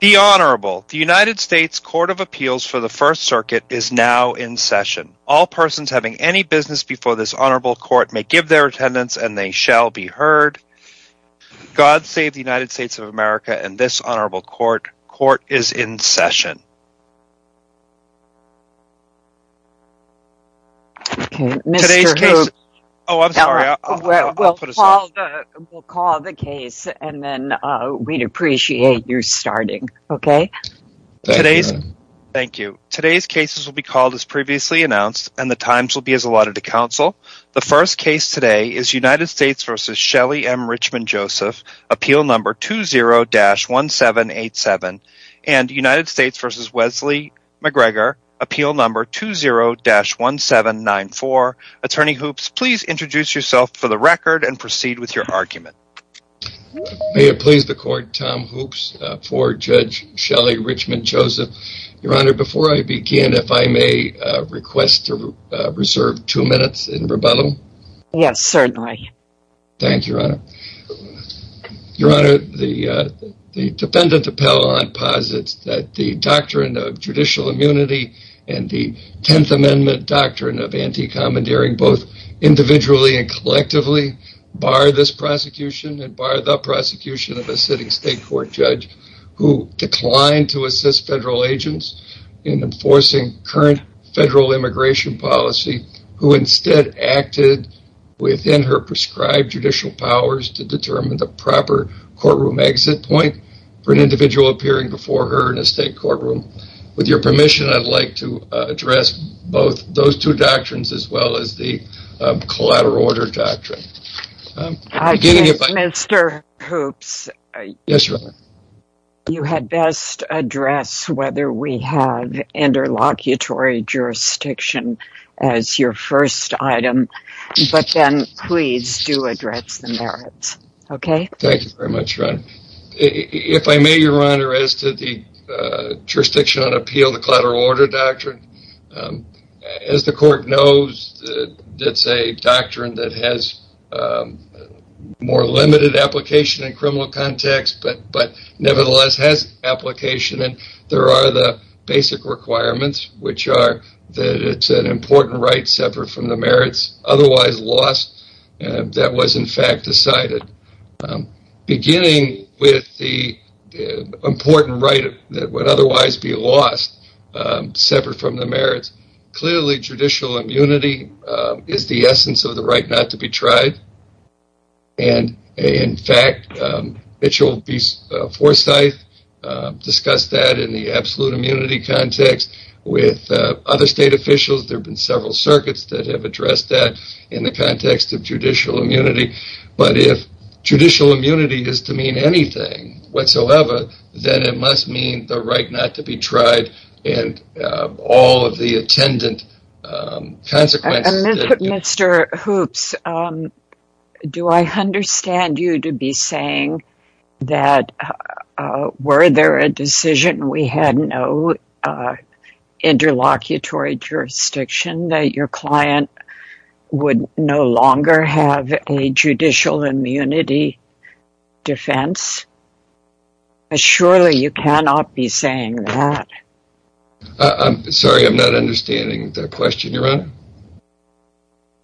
the Honorable the United States Court of Appeals for the First Circuit is now in session all persons having any business before this Honorable court may give their attendance and they shall be heard God save the United States of America and this Honorable court court is in session Okay, Mr. Hoop. Oh, I'm sorry. We'll call the case and then we'd appreciate your starting. Okay? Today's thank you. Today's cases will be called as previously announced and the times will be as allotted to counsel The first case today is United States vs. Shelley M. Richmond Joseph appeal number 20-1787 and United States vs. Wesley McGregor appeal number 20-1794 attorney hoops, please introduce yourself for the record and proceed with your argument May it please the court Tom hoops for judge Shelley Richmond Joseph your honor before I begin if I may Request to reserve two minutes in rebuttal. Yes, certainly Thank You Your honor the defendant appellant posits that the doctrine of judicial immunity and the 10th amendment doctrine of anti-commandeering both individually and collectively Bar this prosecution and bar the prosecution of a sitting state court judge who declined to assist federal agents in enforcing current federal immigration policy who instead acted Within her prescribed judicial powers to determine the proper courtroom exit point for an individual appearing before her in a state courtroom with your permission, I'd like to address both those two doctrines as well as the collateral order doctrine Mr. Hoops Yes, sir You had best address whether we have Interlocutory Jurisdiction as your first item, but then please do address the merits. Okay If I may your honor as to the jurisdiction on appeal the collateral order doctrine as the court knows it's a doctrine that has More limited application in criminal context But nevertheless has application and there are the basic requirements Which are that it's an important right separate from the merits otherwise lost and that was in fact decided beginning with the Important right that would otherwise be lost separate from the merits clearly judicial immunity is the essence of the right not to be tried and In fact it shall be foresight Discussed that in the absolute immunity context with other state officials there have been several circuits that have addressed that in the context of judicial immunity, but if Judicial immunity is to mean anything whatsoever Then it must mean the right not to be tried and all of the attendant Mr. Hoops Do I understand you to be saying that were there a decision we had no Interlocutory jurisdiction that your client would no longer have a judicial immunity defense But surely you cannot be saying that I'm sorry. I'm not understanding the question your honor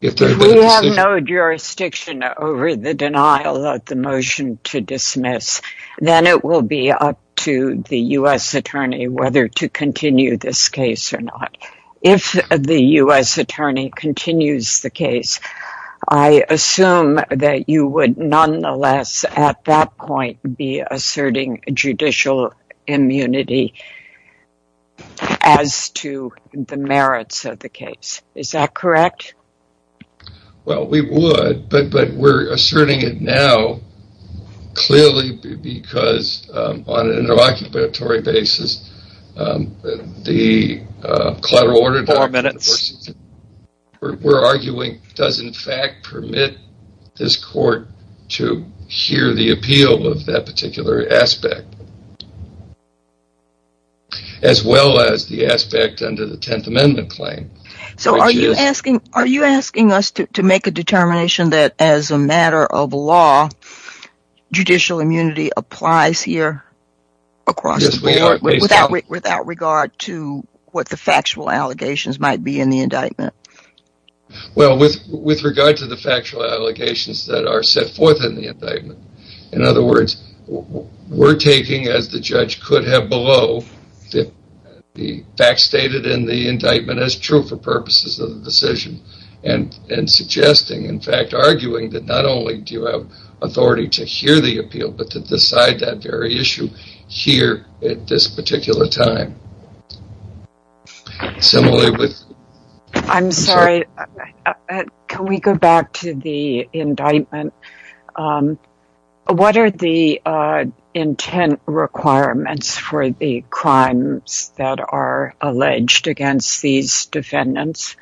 If there's no jurisdiction over the denial of the motion to dismiss Then it will be up to the u.s Attorney whether to continue this case or not if the u.s. Attorney continues the case. I Assume that you would nonetheless at that point be asserting a judicial immunity As to the merits of the case, is that correct Well, we would but but we're asserting it now clearly because on an interlocutory basis the collateral minutes We're arguing does in fact permit this court to hear the appeal of that particular aspect As well as the aspect under the Tenth Amendment claim So are you asking are you asking us to make a determination that as a matter of law? judicial immunity applies here Across without without regard to what the factual allegations might be in the indictment Well with with regard to the factual allegations that are set forth in the indictment in other words We're taking as the judge could have below the facts stated in the indictment as true for purposes of the decision and And suggesting in fact arguing that not only do you have authority to hear the appeal but to decide that very issue Here at this particular time Similarly with I'm sorry, can we go back to the indictment? What are the Intent requirements for the crimes that are alleged against these defendants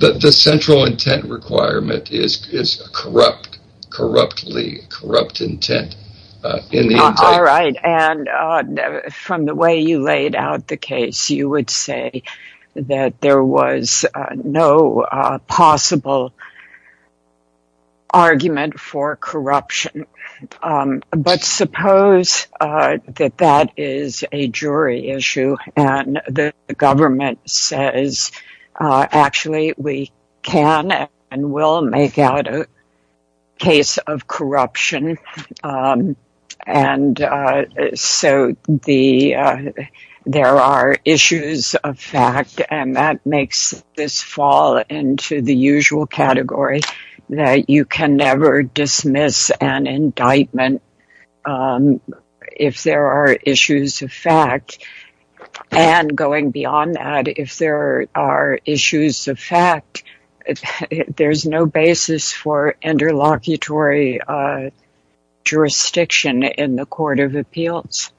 but the central intent requirement is is corrupt corruptly corrupt intent in the From the way you laid out the case you would say that there was no possible Argument for corruption but suppose that that is a jury issue and the government says Actually, we can and will make out a case of corruption and so the There are issues of fact and that makes this fall into the usual category That you can never dismiss an indictment If there are issues of fact And going beyond that if there are issues of fact There's no basis for interlocutory Jurisdiction in the Court of Appeals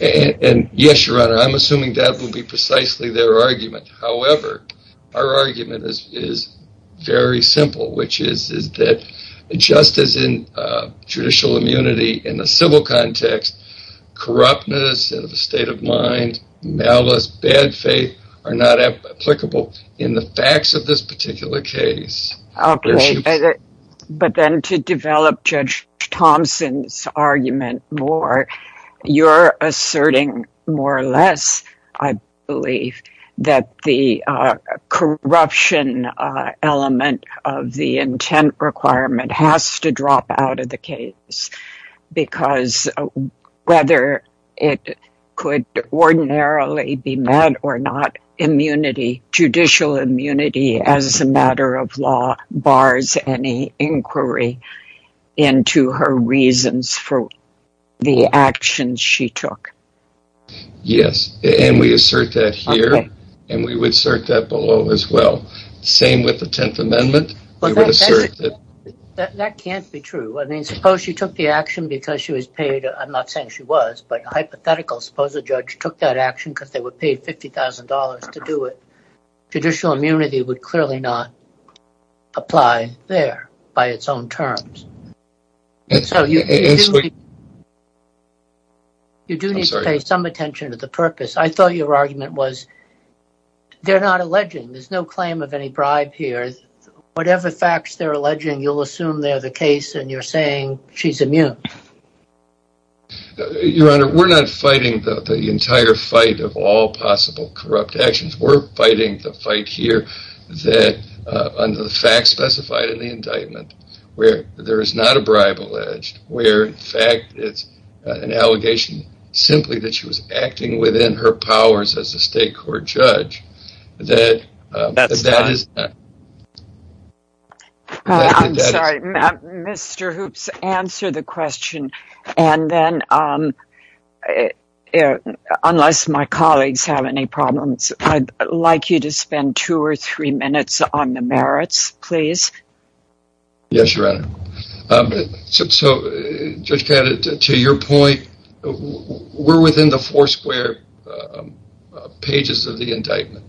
And yes, your honor, I'm assuming that would be precisely their argument. However, our argument is Very simple, which is is that? justice in judicial immunity in the civil context Corruptness and the state of mind malice bad faith are not applicable in the facts of this particular case But then to develop Judge Thompson's argument more You're asserting more or less I believe that the Corruption element of the intent requirement has to drop out of the case because Whether it could ordinarily be met or not Immunity judicial immunity as a matter of law bars any inquiry Into her reasons for the actions she took Yes, and we assert that here and we would assert that below as well. Same with the Tenth Amendment That can't be true, I mean suppose she took the action because she was paid I'm not saying she was but hypothetical suppose a judge took that action because they were paid $50,000 to do it Judicial immunity would clearly not Apply there by its own terms You do need to pay some attention to the purpose I thought your argument was They're not alleging. There's no claim of any bribe here. Whatever facts they're alleging You'll assume they're the case and you're saying she's immune Your honor we're not fighting the entire fight of all possible corrupt actions We're fighting the fight here that Under the fact specified in the indictment where there is not a bribe alleged where in fact, it's an allegation Simply that she was acting within her powers as a state court judge that Mr. Hoops answer the question and then I Unless my colleagues have any problems, I'd like you to spend two or three minutes on the merits, please Yes, your honor So just get it to your point We're within the four square Pages of the indictment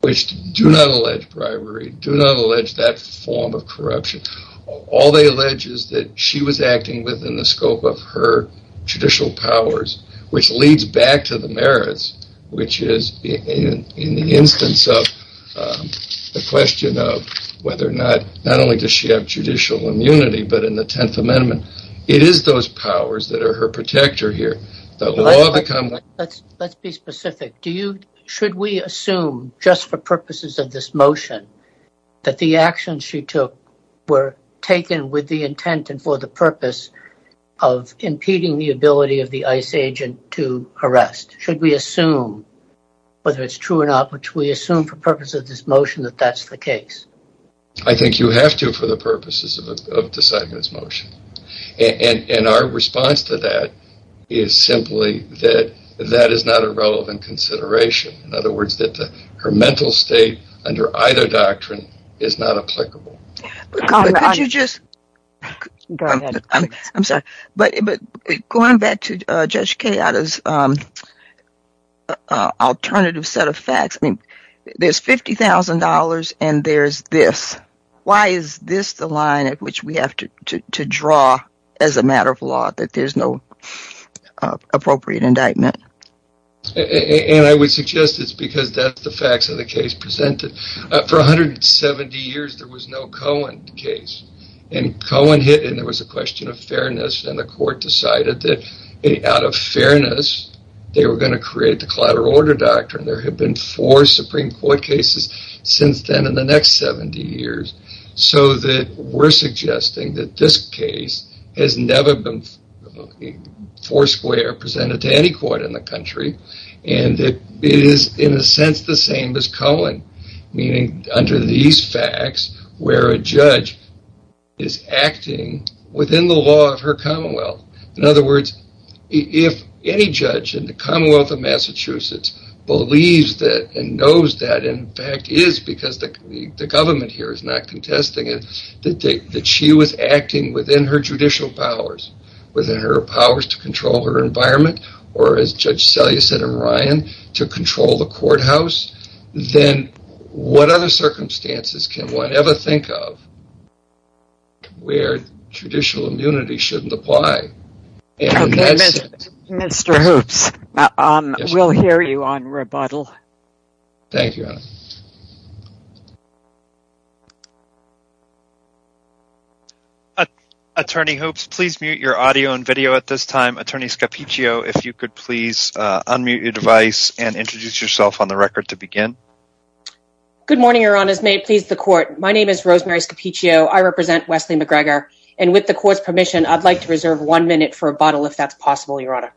which do not allege bribery do not allege that form of corruption All they allege is that she was acting within the scope of her judicial powers which leads back to the merits which is in the instance of The question of whether or not not only does she have judicial immunity But in the Tenth Amendment, it is those powers that are her protector here Let's be specific do you should we assume just for purposes of this motion? That the actions she took were taken with the intent and for the purpose of Impeding the ability of the ICE agent to arrest should we assume? Whether it's true or not, which we assume for purposes of this motion that that's the case I think you have to for the purposes of deciding this motion and and our response to that is Simply that that is not a relevant consideration. In other words that the her mental state under either doctrine is not applicable I'm sorry, but but going back to judge Kayada's Alternative set of facts, I mean there's $50,000 and there's this why is this the line at which we have to draw as a matter of law that there's no Appropriate indictment And I would suggest it's because that's the facts of the case presented for 170 years There was no Cohen case and Cohen hit and there was a question of fairness and the court decided that out of fairness They were going to create the collateral order doctrine There have been four Supreme Court cases since then in the next 70 years So that we're suggesting that this case has never been Foursquare presented to any court in the country and it is in a sense the same as Cohen Meaning under these facts where a judge is Acting within the law of her Commonwealth. In other words if any judge in the Commonwealth of Massachusetts believes that and knows that in fact is because the Government here is not contesting it that she was acting within her judicial powers Within her powers to control her environment or as judge sell you said and Ryan to control the courthouse Then what other circumstances can one ever think of? Where traditional immunity shouldn't apply Mr. Hoops, um, we'll hear you on rebuttal. Thank you A Attorney hopes, please mute your audio and video at this time attorney Scapiccio if you could please Unmute your device and introduce yourself on the record to begin Good morning, your honor's may it please the court. My name is Rosemary Scapiccio I represent Wesley McGregor and with the court's permission I'd like to reserve one minute for a bottle if that's possible your honor.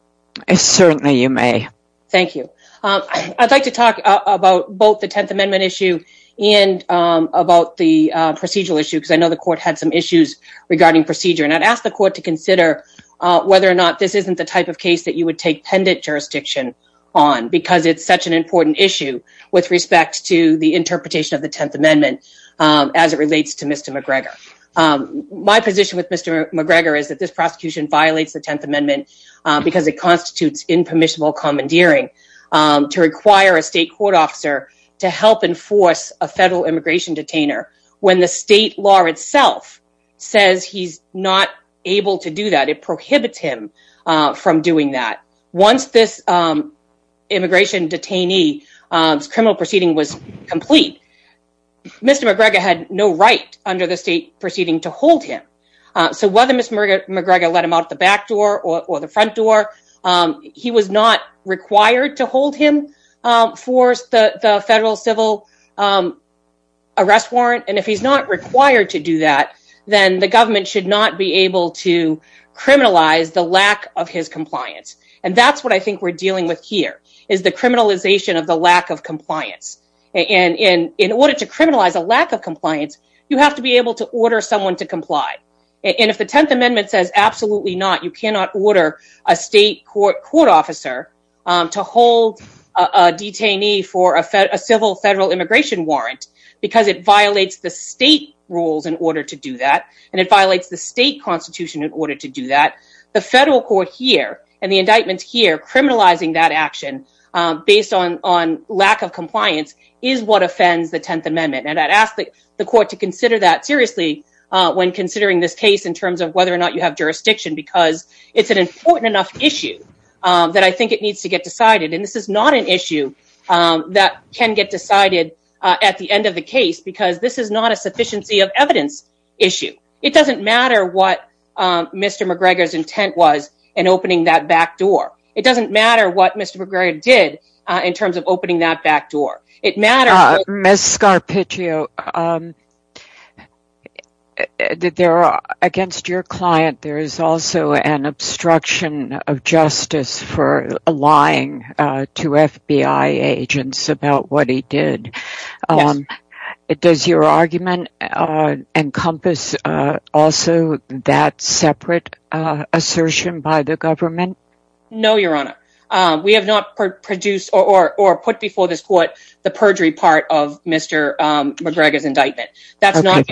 It's certainly you may thank you I'd like to talk about both the Tenth Amendment issue and About the procedural issue because I know the court had some issues regarding procedure and I'd asked the court to consider Whether or not this isn't the type of case that you would take pendant jurisdiction on Because it's such an important issue with respect to the interpretation of the Tenth Amendment as it relates to mr. McGregor My position with mr. McGregor is that this prosecution violates the Tenth Amendment because it constitutes impermissible commandeering To require a state court officer to help enforce a federal immigration detainer when the state law itself Says he's not able to do that. It prohibits him from doing that once this immigration detainee Criminal proceeding was complete Mr. McGregor had no right under the state proceeding to hold him So whether mr. McGregor let him out the back door or the front door He was not required to hold him for the federal civil Arrest warrant and if he's not required to do that, then the government should not be able to criminalize the lack of his compliance and that's what I think we're dealing with here is the criminalization of the lack of compliance And in in order to criminalize a lack of compliance you have to be able to order someone to comply And if the Tenth Amendment says absolutely not you cannot order a state court court officer to hold a detainee for a federal immigration warrant Because it violates the state rules in order to do that and it violates the state Constitution in order to do that the federal court here and the indictments here criminalizing that action Based on on lack of compliance is what offends the Tenth Amendment and I'd ask the court to consider that seriously When considering this case in terms of whether or not you have jurisdiction because it's an important enough issue That I think it needs to get decided and this is not an issue That can get decided at the end of the case because this is not a sufficiency of evidence issue. It doesn't matter what? Mr. McGregor's intent was and opening that back door. It doesn't matter what mr McGregor did in terms of opening that back door it matter miss scar pitch you Did There are against your client there is also an obstruction of justice for lying to FBI agents about what he did It does your argument encompass also that separate assertion by the government No, your honor. We have not produced or put before this court the perjury part of mr McGregor's indictment that's not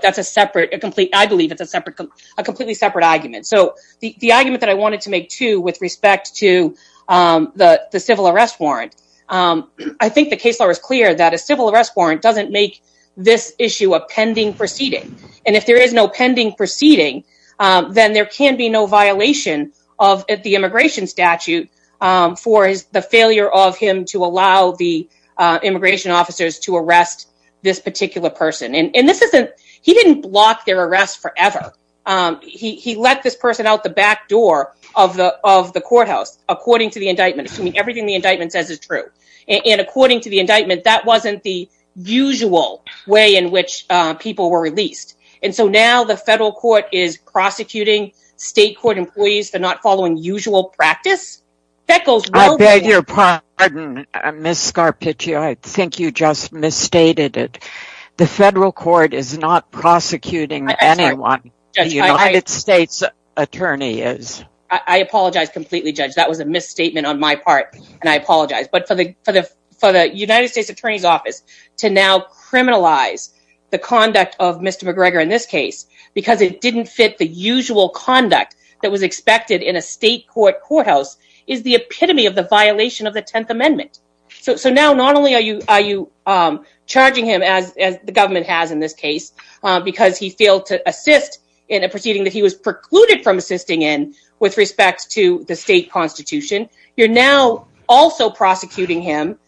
that's a separate a complete I believe it's a separate a completely separate argument so the the argument that I wanted to make to with respect to the the civil arrest warrant I think the case law is clear that a civil arrest warrant doesn't make this issue a pending proceeding and if there is no pending Proceeding then there can be no violation of at the immigration statute for the failure of him to allow the Particular person and this isn't he didn't block their arrest forever He let this person out the back door of the of the courthouse according to the indictment assuming everything the indictment says is true and according to the indictment that wasn't the usual way in which people were released and so now the federal court is Prosecuting state court employees. They're not following usual practice that goes well. They're your part Miss scar pitch you I think you just misstated it The federal court is not prosecuting anyone States attorney is I apologize completely judge That was a misstatement on my part and I apologize but for the for the for the United States Attorney's Office to now criminalize the conduct of mr McGregor in this case because it didn't fit the usual conduct that was expected in a state court courthouse is the epitome of the violation of the Tenth Amendment So now not only are you are you? Charging him as the government has in this case Because he failed to assist in a proceeding that he was precluded from assisting in with respect to the state constitution You're now also prosecuting him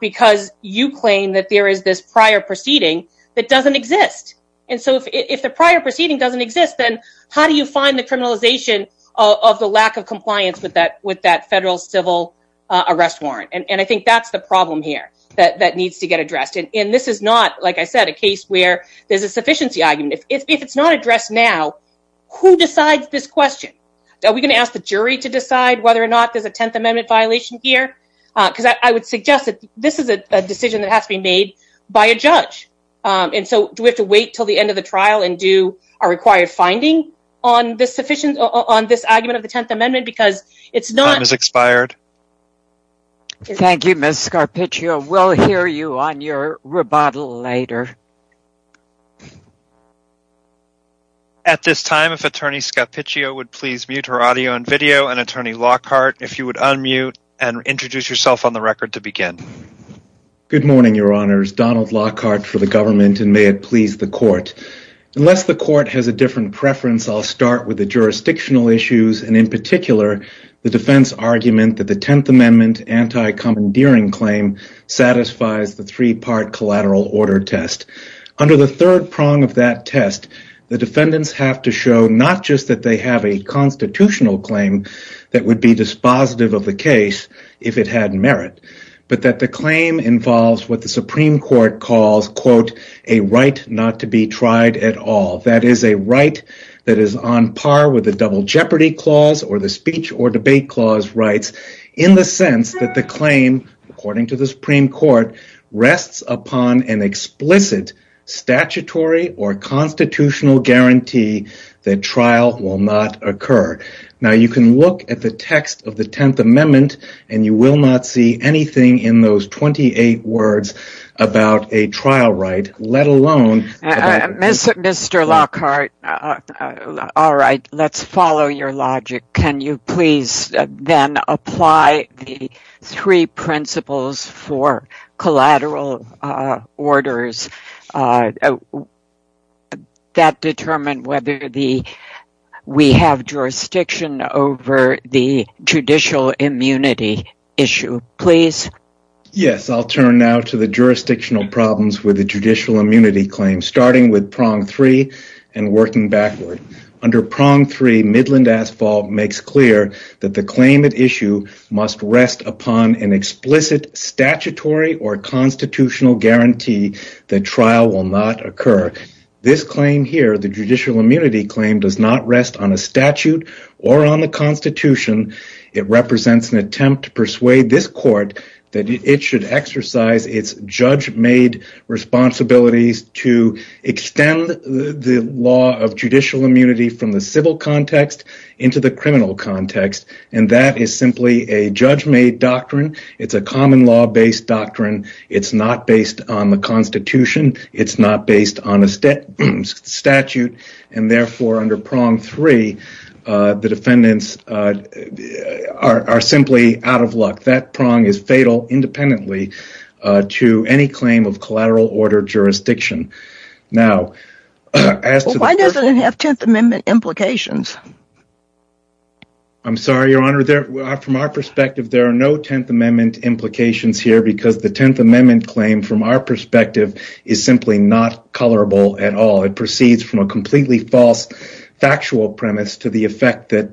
Because you claim that there is this prior proceeding that doesn't exist And so if the prior proceeding doesn't exist Then how do you find the criminalization of the lack of compliance with that with that federal civil arrest warrant? And I think that's the problem here that that needs to get addressed in this is not like I said a case where there's a Sufficiency argument if it's not addressed now Who decides this question? Are we going to ask the jury to decide whether or not there's a Tenth Amendment violation here? Because I would suggest that this is a decision that has to be made by a judge And so do we have to wait till the end of the trial and do our required finding on? This sufficient on this argument of the Tenth Amendment because it's not as expired Thank you, Miss Scarpiccio. We'll hear you on your rebuttal later At this time if Attorney Scarpiccio would please mute her audio and video and Attorney Lockhart if you would unmute and Introduce yourself on the record to begin Good morning, Your Honors Donald Lockhart for the government and may it please the court Unless the court has a different preference I'll start with the jurisdictional issues and in particular the defense argument that the Tenth Amendment anti-commandeering claim Satisfies the three-part collateral order test under the third prong of that test the defendants have to show not just that they have a Constitutional claim that would be dispositive of the case if it had merit But that the claim involves what the Supreme Court calls quote a right not to be tried at all That is a right that is on par with the double jeopardy clause or the speech or debate clause rights in the sense that the claim according to the Supreme Court rests upon an explicit statutory or Constitutional guarantee that trial will not occur now You can look at the text of the Tenth Amendment and you will not see anything in those 28 words about a trial right let alone Mr. Lockhart All right, let's follow your logic. Can you please then apply the three principles for? collateral orders That determine whether the We have jurisdiction over the judicial immunity issue, please Yes, I'll turn now to the jurisdictional problems with the judicial immunity claim starting with prong three and working backward Under prong three Midland asphalt makes clear that the claimant issue must rest upon an explicit statutory or Constitutional guarantee the trial will not occur this claim here The judicial immunity claim does not rest on a statute or on the Constitution It represents an attempt to persuade this court that it should exercise its judge-made responsibilities to extend the law of judicial immunity from the civil context into the criminal context and that is simply a Judge-made doctrine. It's a common law based doctrine. It's not based on the Constitution. It's not based on a statute and therefore under prong three The defendants Are simply out of luck that prong is fatal independently to any claim of collateral order jurisdiction now Implications I'm sorry, your honor there from our perspective There are no Tenth Amendment implications here because the Tenth Amendment claim from our perspective is simply not Colorable at all it proceeds from a completely false Factual premise to the effect that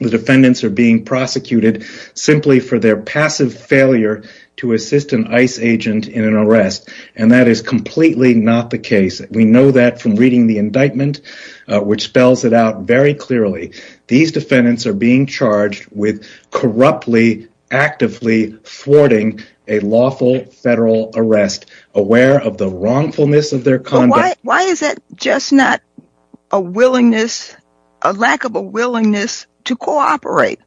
the defendants are being prosecuted Simply for their passive failure to assist an ICE agent in an arrest and that is completely not the case We know that from reading the indictment Which spells it out very clearly these defendants are being charged with corruptly actively thwarting a lawful federal arrest aware of the wrongfulness of their conduct Why is that just not a willingness a lack of a willingness to cooperate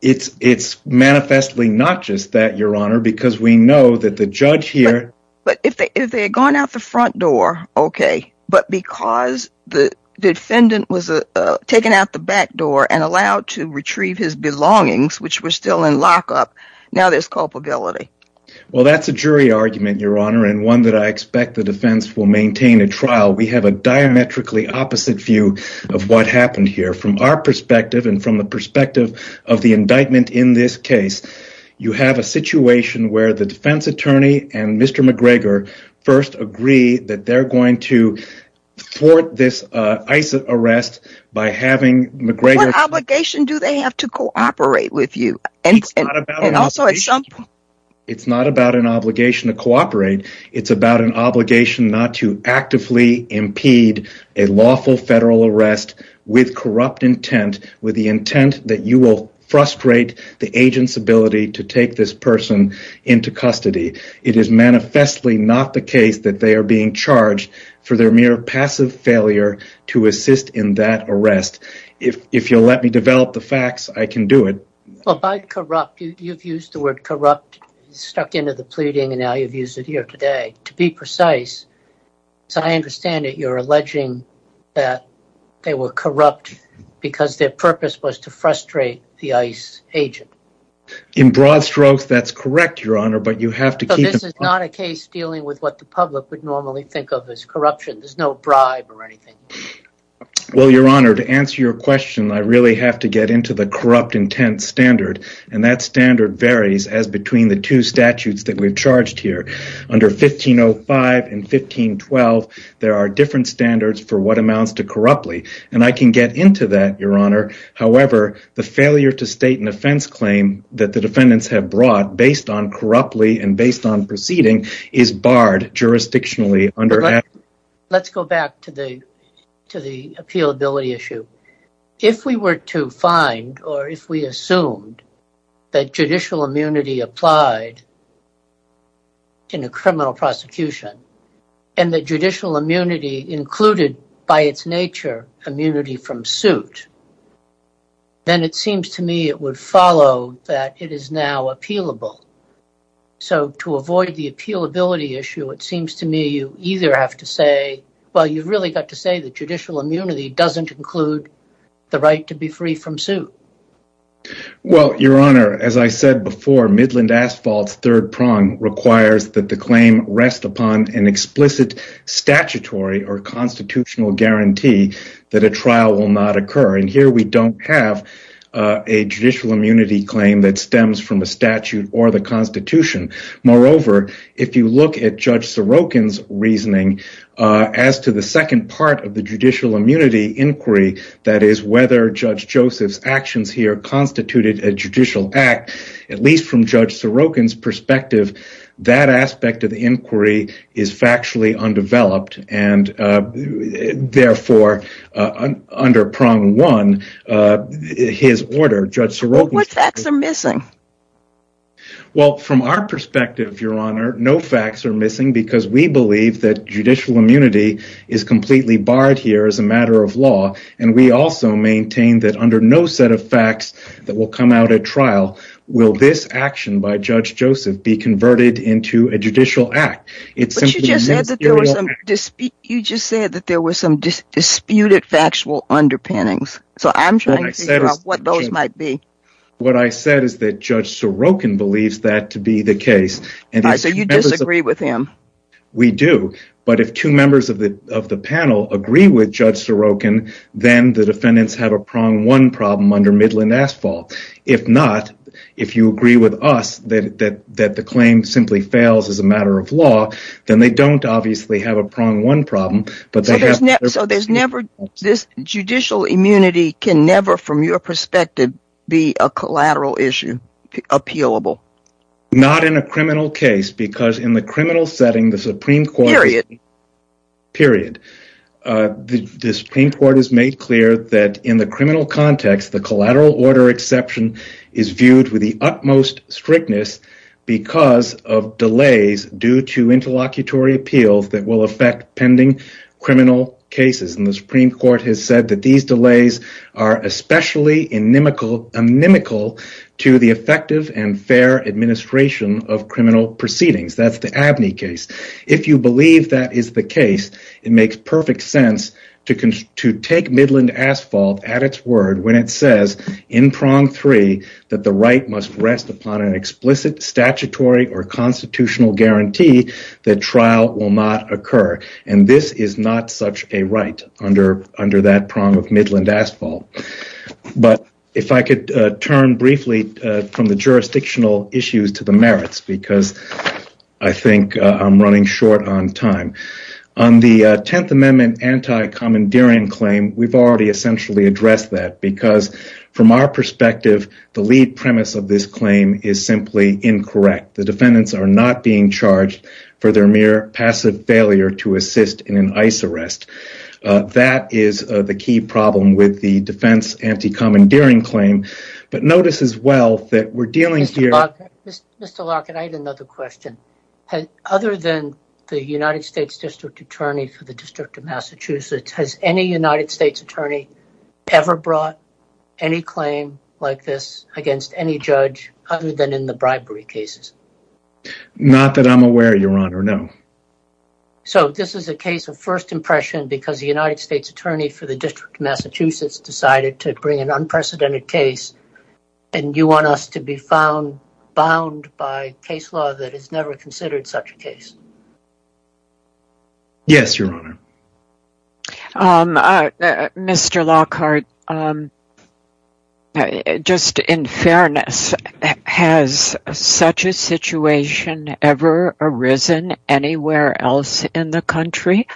It's it's Manifestly, not just that your honor because we know that the judge here But if they had gone out the front door, okay but because the defendant was a Taken out the back door and allowed to retrieve his belongings which were still in lockup now. There's culpability Well, that's a jury argument your honor and one that I expect the defense will maintain a trial we have a diametrically opposite view of what happened here from our perspective and from the perspective of the indictment in this case You have a situation where the defense attorney and mr. McGregor first agree that they're going to thwart this ICE arrest by having obligation do they have to cooperate with you and It's not about an obligation to cooperate it's about an obligation not to actively impede a Lawful federal arrest with corrupt intent with the intent that you will frustrate the agent's ability to take this person Into custody it is manifestly not the case that they are being charged for their mere passive failure To assist in that arrest if if you'll let me develop the facts I can do it Corrupt you've used the word corrupt stuck into the pleading and now you've used it here today to be precise So I understand that you're alleging that They were corrupt because their purpose was to frustrate the ice agent in broad strokes That's correct your honor, but you have to keep this is not a case dealing with what the public would normally think of as corruption There's no bribe or anything Well your honor to answer your question I really have to get into the corrupt intent standard and that standard varies as between the two statutes that we've charged here under 1505 and 1512 there are different standards for what amounts to corruptly and I can get into that your honor However, the failure to state an offense claim that the defendants have brought based on corruptly and based on proceeding is barred jurisdictionally under Let's go back to the to the appeal ability issue if we were to find or if we assumed that judicial immunity applied In a criminal prosecution and the judicial immunity included by its nature immunity from suit Then it seems to me it would follow that it is now appealable So to avoid the appeal ability issue it seems to me you either have to say Well, you've really got to say that judicial immunity doesn't include the right to be free from suit Well your honor as I said before Midland Asphalt's third prong requires that the claim rest upon an explicit statutory or constitutional guarantee that a trial will not occur and here we don't have a Statute or the Constitution moreover if you look at judge Sorokin's reasoning As to the second part of the judicial immunity inquiry, that is whether judge Joseph's actions here constituted a judicial act at least from judge Sorokin's perspective that aspect of the inquiry is factually undeveloped and therefore under prong one His order judge Sorokin's Well from our perspective your honor No facts are missing because we believe that judicial immunity is Completely barred here as a matter of law and we also maintain that under no set of facts that will come out at trial Will this action by judge Joseph be converted into a judicial act? You just said that there was some Disputed factual underpinnings So I'm sure what those might be What I said is that judge Sorokin believes that to be the case and I say you disagree with him We do but if two members of the of the panel agree with judge Sorokin Then the defendants have a prong one problem under Midland Asphalt If not, if you agree with us that that that the claim simply fails as a matter of law Then they don't obviously have a prong one problem So there's never this judicial immunity can never from your perspective be a collateral issue appealable not in a criminal case because in the criminal setting the Supreme Court period period The Supreme Court has made clear that in the criminal context the collateral order exception is viewed with the utmost strictness because of delays due to Criminal cases and the Supreme Court has said that these delays are Especially inimical inimical to the effective and fair administration of criminal proceedings That's the Abney case If you believe that is the case it makes perfect sense to Take Midland Asphalt at its word when it says in prong three that the right must rest upon an explicit statutory or Not such a right under under that prong of Midland Asphalt but if I could turn briefly from the jurisdictional issues to the merits because I Think I'm running short on time on the Tenth Amendment Anti-commandeering claim we've already essentially addressed that because from our perspective The lead premise of this claim is simply incorrect The defendants are not being charged for their mere passive failure to assist in an ICE arrest That is the key problem with the defense Anti-commandeering claim but notice as well that we're dealing here Other than the United States District Attorney for the District of Massachusetts has any United States Attorney Ever brought any claim like this against any judge other than in the bribery cases Not that I'm aware your honor. No So this is a case of first impression because the United States Attorney for the District of Massachusetts Decided to bring an unprecedented case and you want us to be found Bound by case law that has never considered such a case Yes, your honor Mr. Lockhart Just in fairness Has such a situation ever arisen anywhere else in the country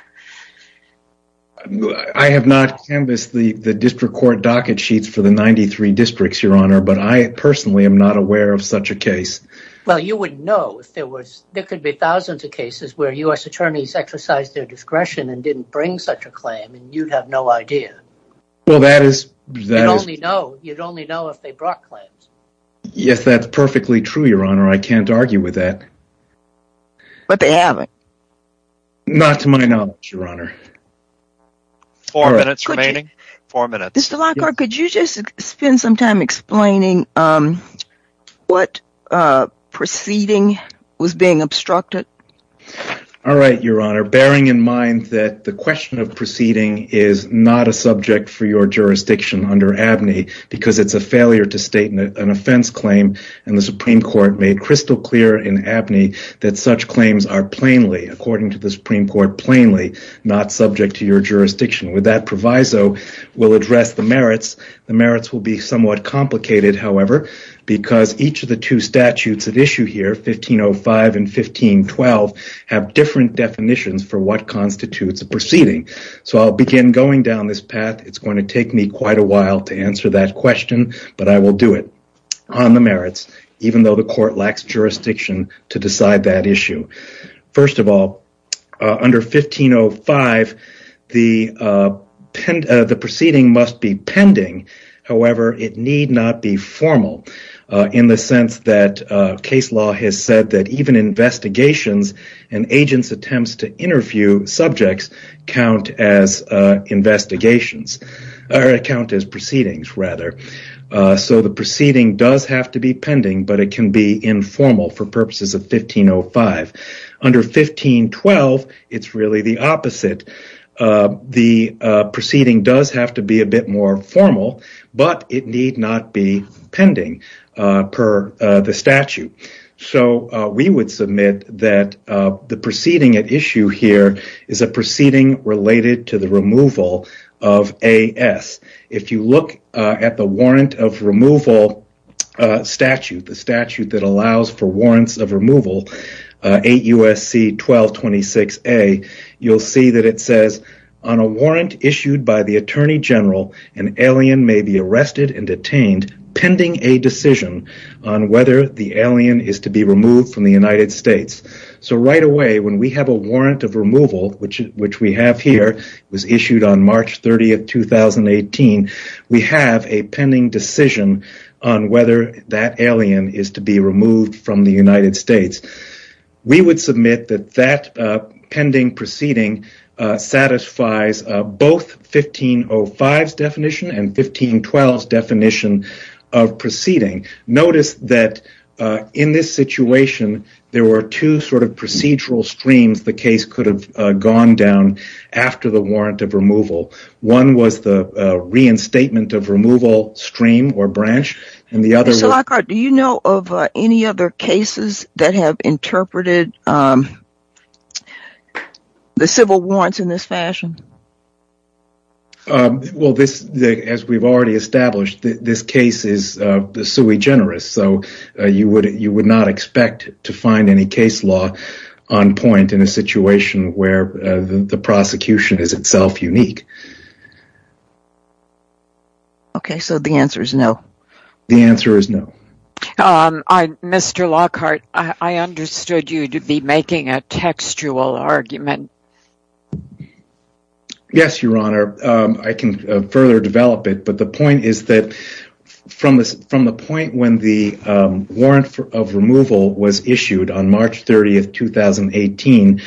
I Have not canvas the the district court docket sheets for the 93 districts your honor But I personally am not aware of such a case Well, you wouldn't know if there was there could be thousands of cases where u.s Attorneys exercised their discretion and didn't bring such a claim and you'd have no idea Well, that is they only know you'd only know if they brought claims Yes, that's perfectly true. Your honor. I can't argue with that But they haven't not to my knowledge your honor Four minutes remaining four minutes. Mr. Lockhart. Could you just spend some time explaining? what Proceeding was being obstructed All right, your honor bearing in mind that the question of proceeding is not a subject for your jurisdiction Under Abney because it's a failure to state an offense claim and the Supreme Court made crystal clear in Abney That such claims are plainly according to the Supreme Court plainly not subject to your jurisdiction with that proviso Will address the merits the merits will be somewhat complicated However, because each of the two statutes at issue here 1505 and 1512 have different definitions for what? Constitutes a proceeding so I'll begin going down this path It's going to take me quite a while to answer that question But I will do it on the merits even though the court lacks jurisdiction to decide that issue first of all under 1505 the Pend the proceeding must be pending however, it need not be formal in the sense that case law has said that even investigations and agents attempts to interview subjects count as Investigations our account is proceedings rather So the proceeding does have to be pending but it can be informal for purposes of 1505 under 1512 it's really the opposite The proceeding does have to be a bit more formal, but it need not be pending per the statute So we would submit that the proceeding at issue here is a proceeding related to the removal Of a s if you look at the warrant of removal Statute the statute that allows for warrants of removal 8 USC 1226 a you'll see that it says on a warrant issued by the Attorney General an Alien may be arrested and detained Pending a decision on whether the alien is to be removed from the United States So right away when we have a warrant of removal, which which we have here was issued on March 30 of 2018 we have a pending decision on whether that alien is to be removed from the United States We would submit that that pending proceeding satisfies both 1505 definition and 1512 definition of Situation there were two sort of procedural streams the case could have gone down after the warrant of removal one was the reinstatement of removal stream or branch and the other do you know of any other cases that have interpreted The civil warrants in this fashion Well this as we've already established this case is the sui generis So you would you would not expect to find any case law on point in a situation where? The prosecution is itself unique Okay, so the answer is no the answer is no Mr. Lockhart, I understood you to be making a textual argument Yes, your honor I can further develop it but the point is that From this from the point when the warrant of removal was issued on March 30th 2018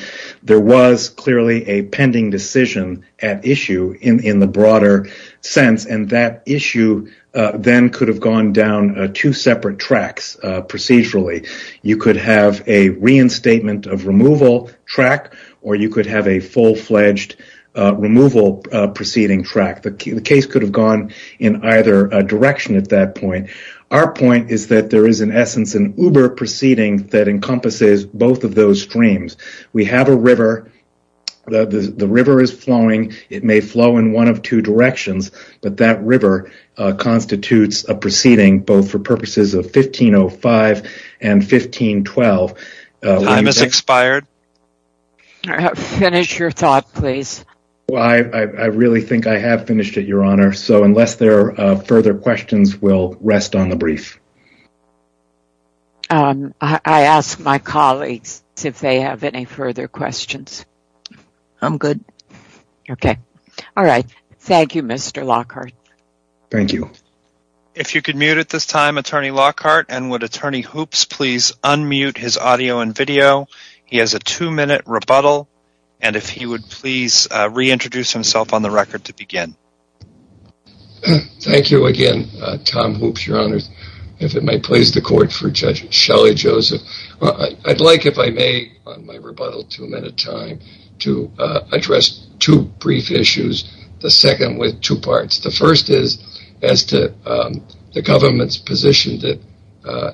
there was clearly a pending decision at issue in in the broader sense and that issue Then could have gone down two separate tracks Procedurally, you could have a reinstatement of removal track or you could have a full-fledged Removal proceeding track the case could have gone in either direction at that point Our point is that there is in essence an uber proceeding that encompasses both of those streams. We have a river The river is flowing. It may flow in one of two directions, but that river constitutes a proceeding both for purposes of 1505 and 1512 Time has expired Finish your thought please. Well, I I really think I have finished it your honor So unless there are further questions will rest on the brief I asked my colleagues if they have any further questions I'm good Okay. All right. Thank you. Mr. Lockhart Thank you If you could mute at this time attorney Lockhart and would attorney hoops, please unmute his audio and video He has a two-minute rebuttal and if he would please reintroduce himself on the record to begin Thank you again Tom hoops your honor's if it might please the court for judge Shelly Joseph I'd like if I may To address two brief issues the second with two parts the first is as to The government's position that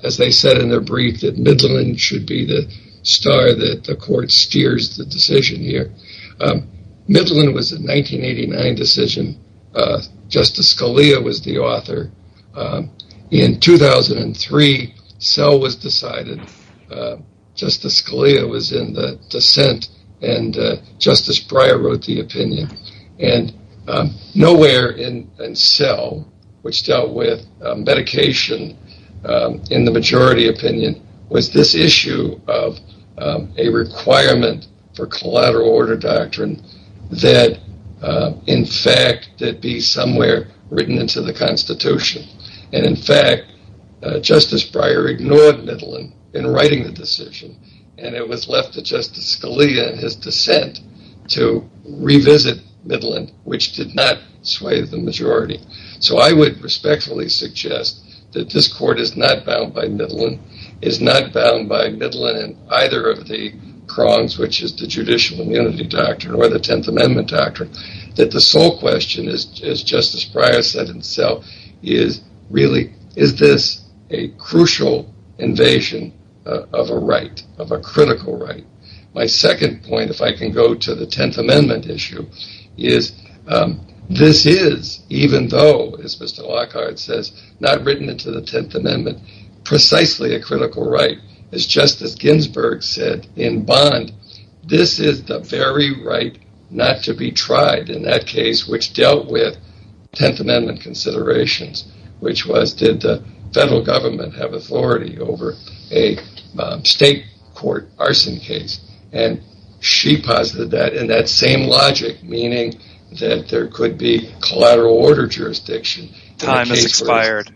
As they said in their brief that Midland should be the star that the court steers the decision here Midland was in 1989 decision Justice Scalia was the author in 2003 cell was decided justice Scalia was in the dissent and justice Breyer wrote the opinion and Nowhere in and so which dealt with medication in the majority opinion was this issue of a requirement for collateral order doctrine that in fact that be somewhere written into the Constitution and in fact justice Breyer ignored Midland in writing the decision and it was left to justice Scalia and his dissent to Which did not sway the majority so I would respectfully suggest that this court is not bound by Midland is not bound by Midland and either of the Crongs which is the judicial immunity doctrine or the Tenth Amendment doctrine that the sole question is Justice Breyer said himself is really is this a crucial? invasion of a right of a critical right my second point if I can go to the Tenth Amendment issue is This is even though as mr. Lockhart says not written into the Tenth Amendment Precisely a critical right as justice Ginsburg said in bond This is the very right not to be tried in that case which dealt with Tenth Amendment considerations, which was did the federal government have authority over a state court arson case and She posited that in that same logic meaning that there could be collateral order jurisdiction time expired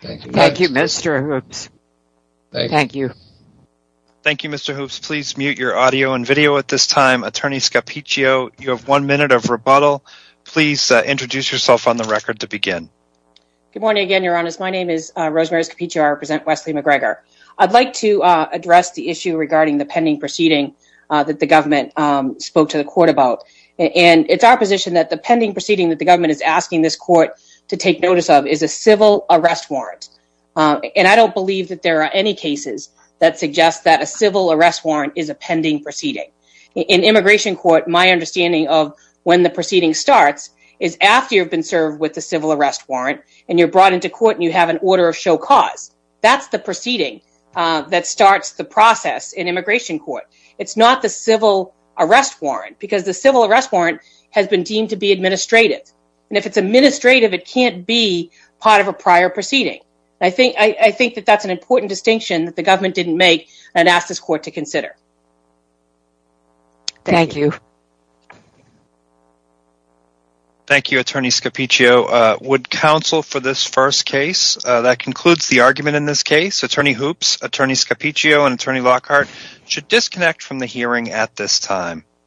Thank You mr. Hoops Thank you Thank You mr. Hoops, please mute your audio and video at this time attorney Scapiccio. You have one minute of rebuttal Please introduce yourself on the record to begin Good morning again. Your honest. My name is Rosemary's PTR present Wesley McGregor I'd like to address the issue regarding the pending proceeding that the government spoke to the court about And it's our position that the pending proceeding that the government is asking this court to take notice of is a civil arrest warrant And I don't believe that there are any cases that suggest that a civil arrest warrant is a pending proceeding in immigration court My understanding of when the proceeding starts is after you've been served with the civil arrest warrant and you're brought into court And you have an order of show cause that's the proceeding that starts the process in immigration court It's not the civil arrest warrant because the civil arrest warrant has been deemed to be administrative and if it's administrative It can't be part of a prior proceeding I think I think that that's an important distinction that the government didn't make and asked this court to consider Thank you Thank You attorney Scapiccio would counsel for this first case that concludes the argument in this case attorney Hoops attorney Scapiccio and attorney Lockhart should disconnect from the hearing at this time